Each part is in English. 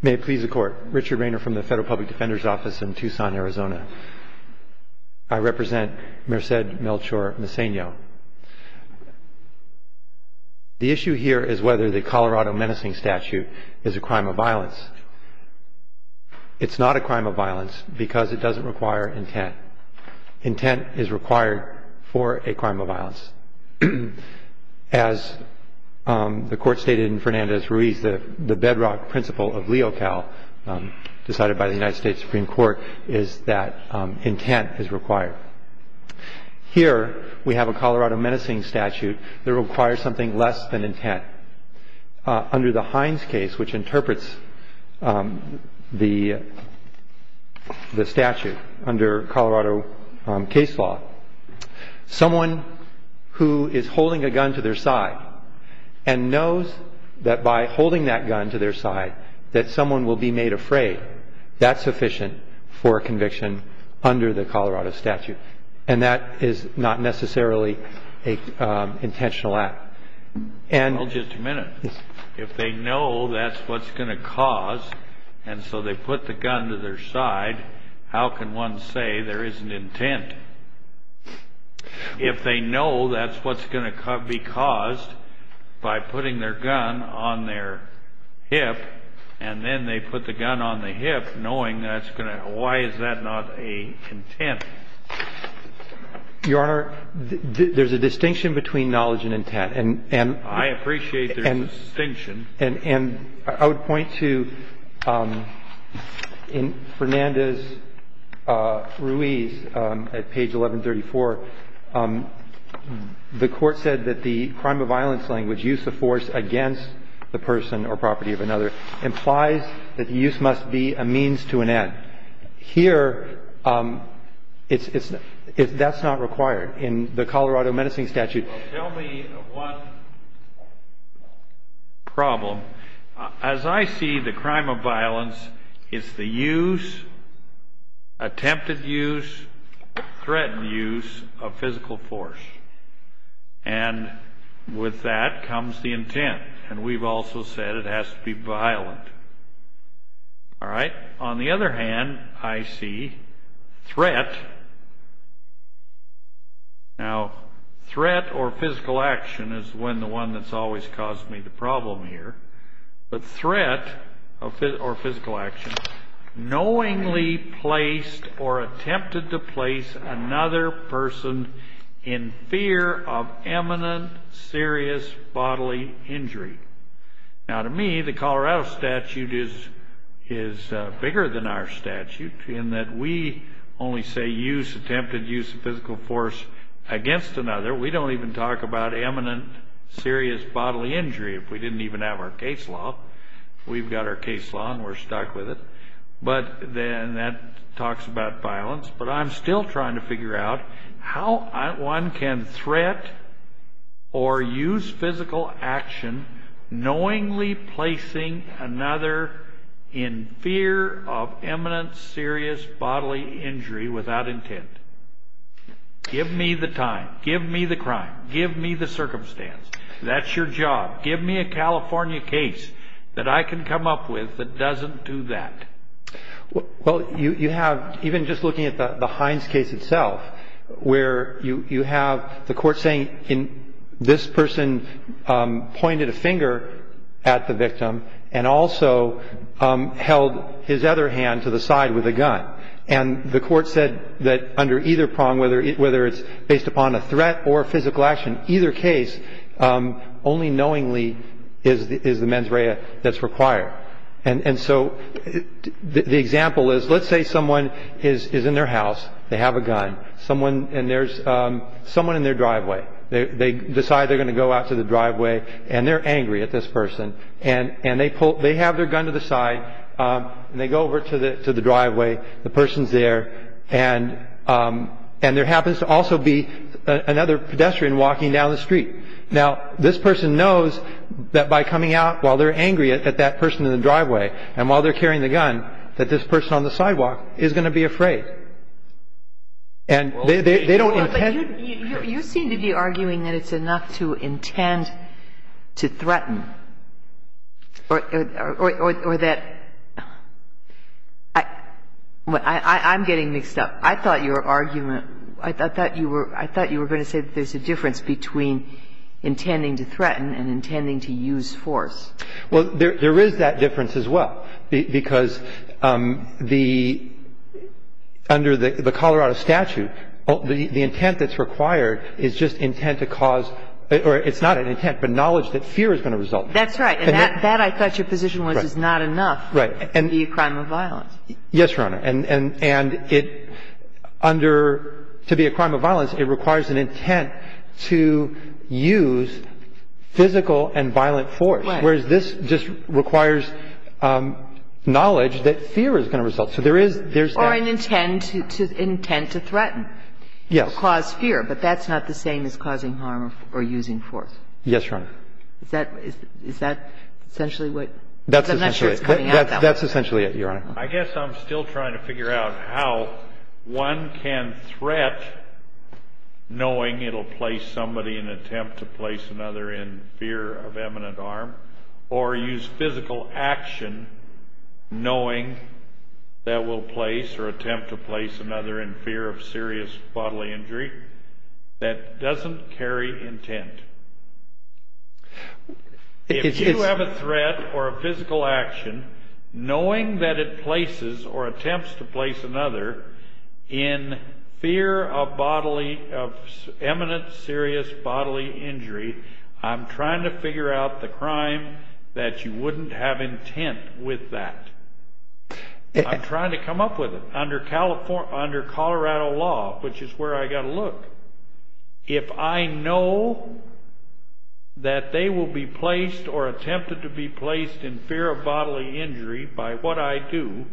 May it please the Court, Richard Rayner from the Federal Public Defender's Office in Tucson, Arizona. I represent Merced Melchor-Meceno. The issue here is whether the Colorado menacing statute is a crime of violence. It's not a crime of violence because it doesn't require intent. As the Court stated in Fernandez-Ruiz, the bedrock principle of LEOCAL decided by the United States Supreme Court is that intent is required. Here we have a Colorado menacing statute that requires something less than intent. Under the Hines case, which interprets the statute under Colorado case law, someone who is holding a gun to their side and knows that by holding that gun to their side that someone will be made afraid, that's sufficient for conviction under the Colorado statute. And that is not necessarily an intentional act. Well, just a minute. If they know that's what's going to cause, and so they put the gun to their side, how can one say there isn't intent? If they know that's what's going to be caused by putting their gun on their hip, and then they put the gun on the hip knowing that's going to, why is that not a intent? Your Honor, there's a distinction between knowledge and intent. I appreciate there's a distinction. And I would point to in Fernandez-Ruiz at page 1134, the Court said that the crime of violence language, use of force against the person or property of another, implies that the use must be a means to an end. Here, that's not required in the Colorado menacing statute. Tell me one problem. As I see the crime of violence, it's the use, attempted use, threatened use of physical force. And with that comes the intent. And we've also said it has to be violent. All right? On the other hand, I see threat. Now, threat or physical action is the one that's always caused me the problem here. But threat or physical action, knowingly placed or attempted to place another person in fear of imminent serious bodily injury. Now, to me, the Colorado statute is bigger than our statute, in that we only say use, attempted use of physical force against another. We don't even talk about imminent serious bodily injury if we didn't even have our case law. We've got our case law, and we're stuck with it. But then that talks about violence. But I'm still trying to figure out how one can threat or use physical action knowingly placing another in fear of imminent serious bodily injury without intent. Give me the time. Give me the crime. Give me the circumstance. That's your job. Give me a California case that I can come up with that doesn't do that. Well, you have, even just looking at the Hines case itself, where you have the court saying this person pointed a finger at the victim and also held his other hand to the side with a gun. And the court said that under either prong, whether it's based upon a threat or physical action, either case only knowingly is the mens rea that's required. And so the example is, let's say someone is in their house. They have a gun. And there's someone in their driveway. They decide they're going to go out to the driveway, and they're angry at this person. And they have their gun to the side, and they go over to the driveway. The person's there, and there happens to also be another pedestrian walking down the street. Now, this person knows that by coming out while they're angry at that person in the driveway, and while they're carrying the gun, that this person on the sidewalk is going to be afraid. And they don't intend to. Well, but you seem to be arguing that it's enough to intend to threaten or that – I'm getting mixed up. I thought your argument – I thought you were going to say that there's a difference between intending to threaten and intending to use force. Well, there is that difference as well, because the – under the Colorado statute, the intent that's required is just intent to cause – or it's not an intent, but knowledge that fear is going to result. That's right. And that, I thought your position was, is not enough to be a crime of violence. Yes, Your Honor. And it – under – to be a crime of violence, it requires an intent to use physical and violent force. Right. Whereas this just requires knowledge that fear is going to result. So there is – there's that. Or an intent to threaten. Yes. Or cause fear. But that's not the same as causing harm or using force. Yes, Your Honor. Is that – is that essentially what – because I'm not sure it's coming out that way. That's essentially it. That's essentially it, Your Honor. I guess I'm still trying to figure out how one can threat, knowing it will place somebody in attempt to place another in fear of eminent harm, or use physical action, knowing that will place or attempt to place another in fear of serious bodily injury, that doesn't carry intent. It is – If you have a threat or a physical action, knowing that it places or attempts to place another in fear of bodily – of eminent serious bodily injury, I'm trying to figure out the crime that you wouldn't have intent with that. I'm trying to come up with it. Under Colorado law, which is where I got to look, if I know that they will be placed or attempted to be placed in fear of bodily injury by what I do,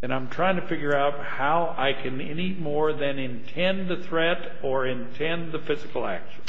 then I'm trying to figure out how I can any more than intend the threat or intend the physical action.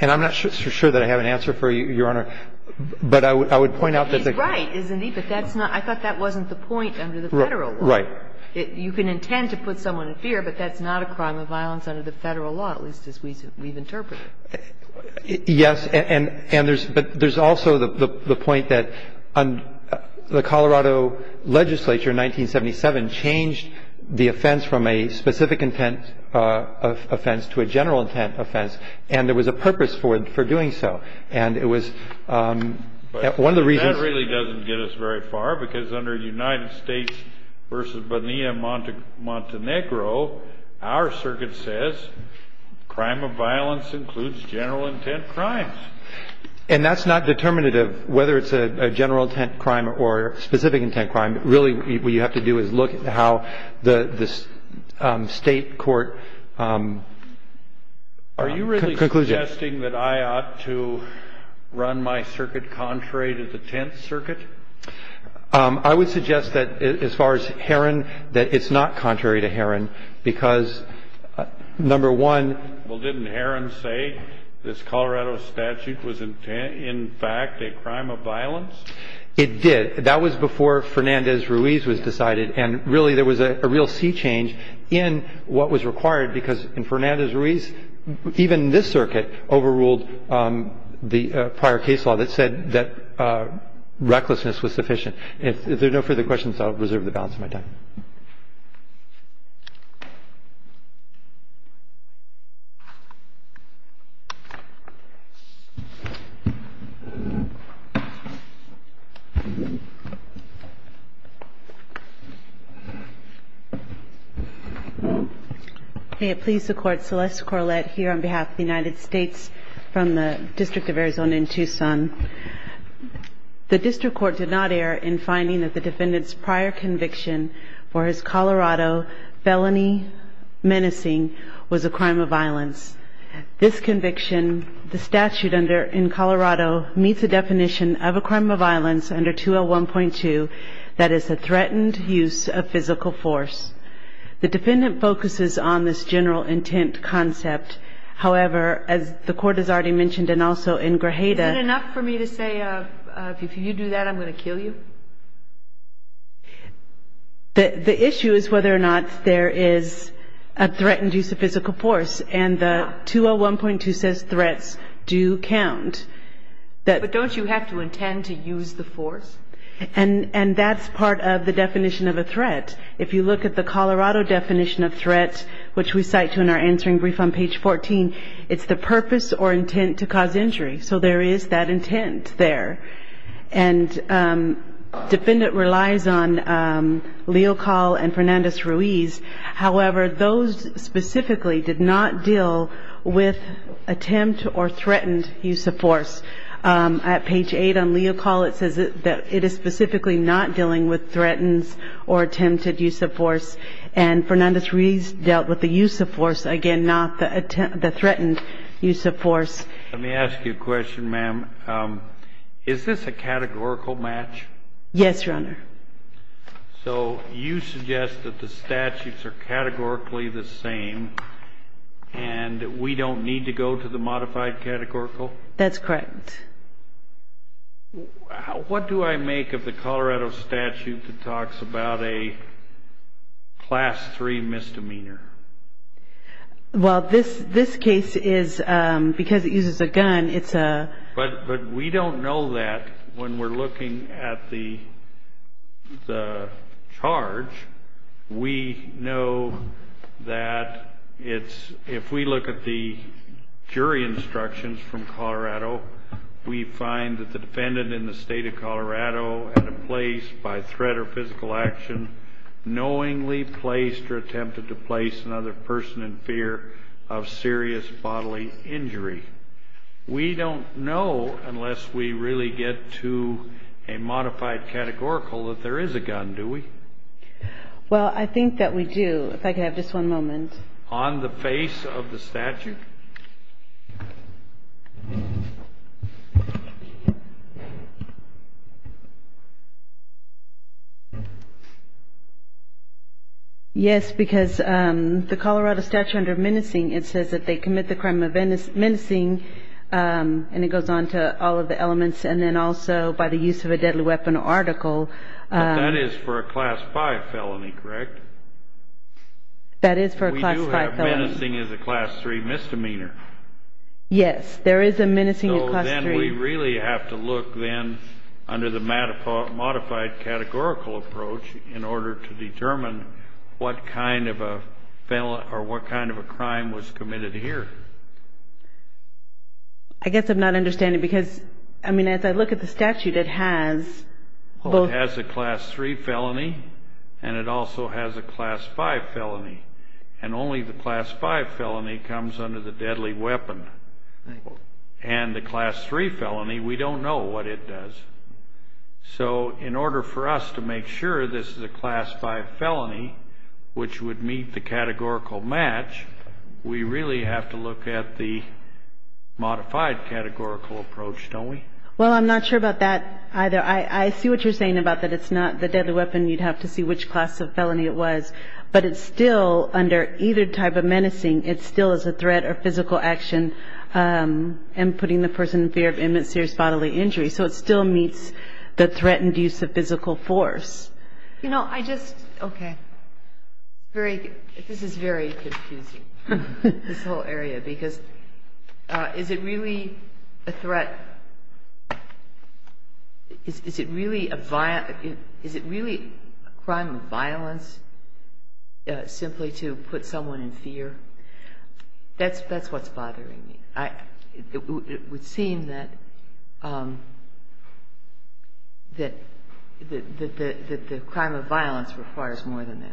And I'm not sure that I have an answer for you, Your Honor. But I would point out that the – He's right, isn't he? But that's not – I thought that wasn't the point under the federal law. Right. You can intend to put someone in fear, but that's not a crime of violence under the federal law, at least as we've interpreted it. Yes, and there's – but there's also the point that the Colorado legislature in 1977 changed the offense from a specific intent offense to a general intent offense, and there was a purpose for doing so. And it was – one of the reasons – Well, that really doesn't get us very far, because under United States v. Bonilla-Montenegro, our circuit says crime of violence includes general intent crimes. And that's not determinative, whether it's a general intent crime or a specific intent crime. Really, what you have to do is look at how the state court concludes it. Do you think that I ought to run my circuit contrary to the Tenth Circuit? I would suggest that, as far as Herron, that it's not contrary to Herron, because, number one – Well, didn't Herron say this Colorado statute was in fact a crime of violence? It did. That was before Fernandez-Ruiz was decided. And really, there was a real sea change in what was required, because in Fernandez-Ruiz, even this circuit overruled the prior case law that said that recklessness was sufficient. If there are no further questions, I'll reserve the balance of my time. May it please the Court, Celeste Corlett here on behalf of the United States from the District of Arizona in Tucson. The District Court did not err in finding that the defendant's prior conviction for his Colorado felony menacing was a crime of violence. This conviction, the statute in Colorado, meets the definition of a crime of violence under 201.2, that is a threatened use of physical force. The defendant focuses on this general intent concept. However, as the Court has already mentioned, and also in Grajeda – Is it enough for me to say, if you do that, I'm going to kill you? The issue is whether or not there is a threatened use of physical force. And the 201.2 says threats do count. But don't you have to intend to use the force? And that's part of the definition of a threat. If you look at the Colorado definition of threat, which we cite to in our answering brief on page 14, it's the purpose or intent to cause injury. So there is that intent there. And defendant relies on Leocal and Fernandez-Ruiz. However, those specifically did not deal with attempt or threatened use of force. At page 8 on Leocal, it says that it is specifically not dealing with threatened or attempted use of force. And Fernandez-Ruiz dealt with the use of force, again, not the threatened use of force. Let me ask you a question, ma'am. Is this a categorical match? Yes, Your Honor. So you suggest that the statutes are categorically the same and we don't need to go to the modified categorical? That's correct. What do I make of the Colorado statute that talks about a class 3 misdemeanor? Well, this case is because it uses a gun. But we don't know that when we're looking at the charge. We know that it's, if we look at the jury instructions from Colorado, we find that the defendant in the State of Colorado at a place by threat or physical action knowingly placed or attempted to place another person in fear of serious bodily injury. We don't know unless we really get to a modified categorical that there is a gun, do we? Well, I think that we do. If I could have just one moment. On the face of the statute? Yes, because the Colorado statute under menacing, it says that they commit the crime of menacing, and it goes on to all of the elements, and then also by the use of a deadly weapon or article. That is for a class 5 felony, correct? That is for a class 5 felony. We do have menacing as a class 3 misdemeanor. Yes, there is a menacing of class 3. So then we really have to look then under the modified categorical approach in order to determine what kind of a crime was committed here. I guess I'm not understanding because, I mean, as I look at the statute, it has both. Well, it has a class 3 felony, and it also has a class 5 felony. And only the class 5 felony comes under the deadly weapon. And the class 3 felony, we don't know what it does. So in order for us to make sure this is a class 5 felony, which would meet the categorical match, we really have to look at the modified categorical approach, don't we? Well, I'm not sure about that either. I see what you're saying about that it's not the deadly weapon. You'd have to see which class of felony it was. But it still, under either type of menacing, it still is a threat or physical action and putting the person in fear of imminent serious bodily injury. So it still meets the threatened use of physical force. You know, I just, okay. This is very confusing, this whole area, because is it really a threat? Is it really a crime of violence simply to put someone in fear? That's what's bothering me. It would seem that the crime of violence requires more than that.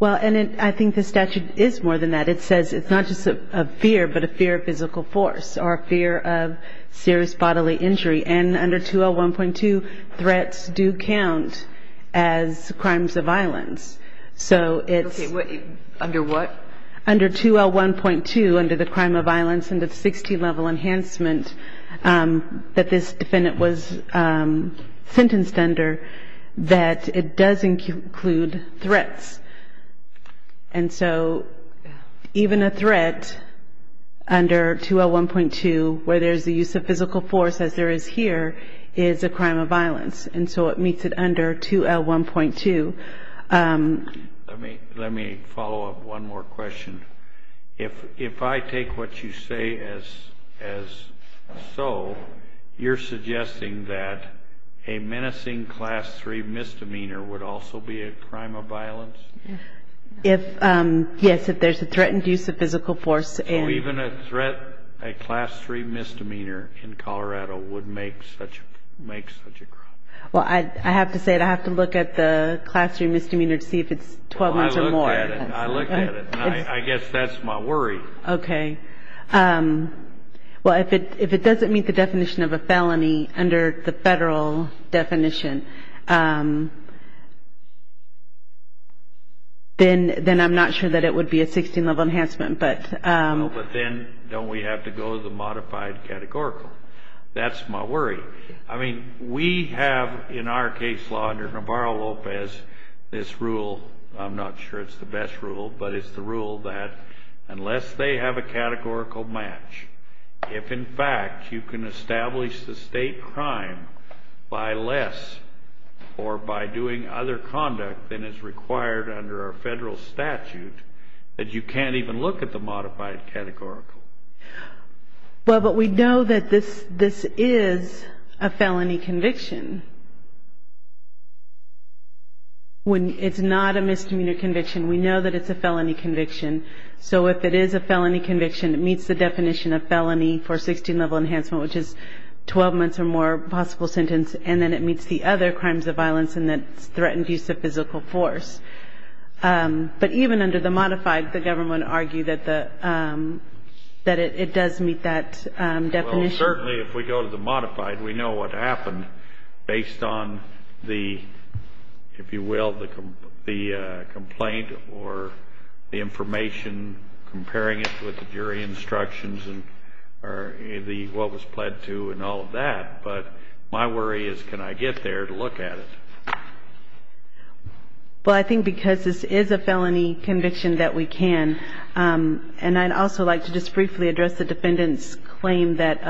Well, and I think the statute is more than that. It says it's not just a fear, but a fear of physical force or a fear of serious bodily injury. And under 2L1.2, threats do count as crimes of violence. Okay, under what? Under 2L1.2, under the crime of violence, under the 16-level enhancement that this defendant was sentenced under, that it does include threats. And so even a threat under 2L1.2, where there's the use of physical force, as there is here, is a crime of violence. And so it meets it under 2L1.2. Let me follow up one more question. If I take what you say as so, you're suggesting that a menacing Class 3 misdemeanor would also be a crime of violence? Yes, if there's a threatened use of physical force. So even a threat, a Class 3 misdemeanor in Colorado would make such a crime? Well, I have to say it. I have to look at the Class 3 misdemeanor to see if it's 12 months or more. I looked at it. I guess that's my worry. Okay. Well, if it doesn't meet the definition of a felony under the federal definition, then I'm not sure that it would be a 16-level enhancement. But then don't we have to go to the modified categorical? That's my worry. I mean, we have in our case law under Navarro-Lopez this rule. I'm not sure it's the best rule, but it's the rule that unless they have a categorical match, if, in fact, you can establish the state crime by less or by doing other conduct than is required under our federal statute, that you can't even look at the modified categorical. Well, but we know that this is a felony conviction. It's not a misdemeanor conviction. We know that it's a felony conviction. So if it is a felony conviction, it meets the definition of felony for 16-level enhancement, which is 12 months or more possible sentence, and then it meets the other crimes of violence and that's threatened use of physical force. But even under the modified, the government argued that it does meet that definition. Well, certainly if we go to the modified, we know what happened based on the, if you will, the complaint or the information comparing it with the jury instructions and what was pled to and all of that. But my worry is can I get there to look at it? Well, I think because this is a felony conviction that we can. And I'd also like to just briefly address the defendant's claim that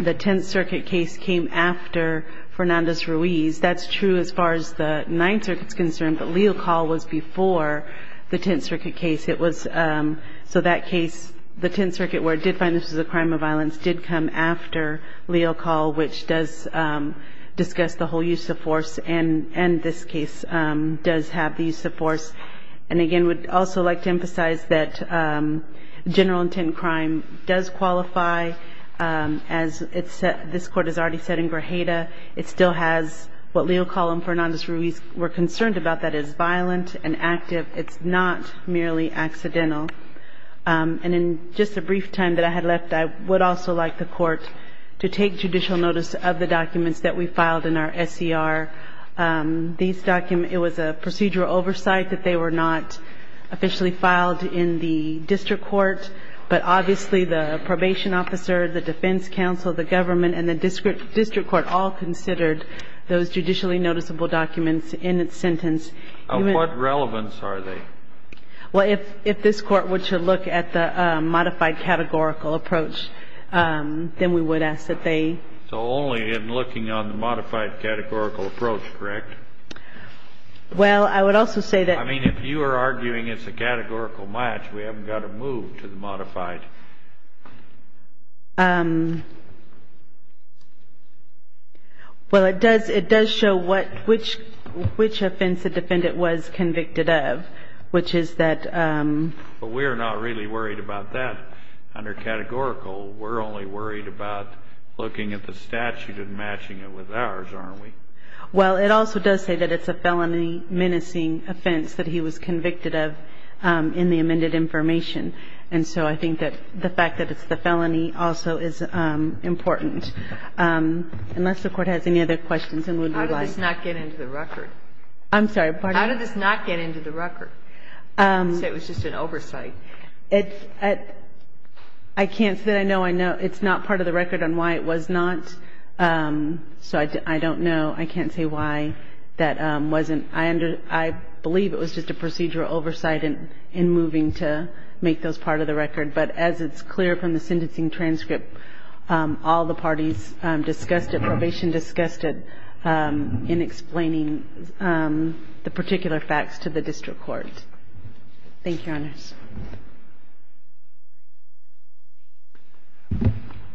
the Tenth Circuit case came after Fernandez-Ruiz. That's true as far as the Ninth Circuit is concerned, but Leal Call was before the Tenth Circuit case. So that case, the Tenth Circuit where it did find this was a crime of violence, did come after Leal Call, which does discuss the whole use of force, and this case does have the use of force. And again, we'd also like to emphasize that general intent crime does qualify. As this Court has already said in Grajeda, it still has what Leal Call and Fernandez-Ruiz were concerned about, that it's violent and active. It's not merely accidental. And in just the brief time that I had left, I would also like the Court to take judicial notice of the documents that we filed in our SCR. These documents, it was a procedural oversight that they were not officially filed in the district court, but obviously the probation officer, the defense counsel, the government, and the district court all considered those judicially noticeable documents in its sentence. What relevance are they? Well, if this Court were to look at the modified categorical approach, then we would ask that they So only in looking on the modified categorical approach, correct? Well, I would also say that I mean, if you are arguing it's a categorical match, we haven't got to move to the modified. Well, it does show which offense the defendant was convicted of, which is that But we're not really worried about that under categorical. We're only worried about looking at the statute and matching it with ours, aren't we? Well, it also does say that it's a felony menacing offense that he was convicted of in the amended information. And so I think that the fact that it's the felony also is important. Unless the Court has any other questions and would like How did this not get into the record? I'm sorry, pardon me? How did this not get into the record? You said it was just an oversight. I can't say that I know. It's not part of the record on why it was not. So I don't know. I can't say why that wasn't. I believe it was just a procedural oversight in moving to make those part of the record. But as it's clear from the sentencing transcript, all the parties discussed it, probation discussed it, Thank you, Your Honors.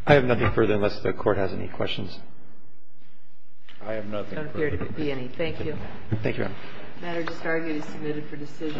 I have nothing further unless the Court has any questions. I have nothing further. There don't appear to be any. Thank you. Thank you, Your Honor. The matter to start is submitted for decision.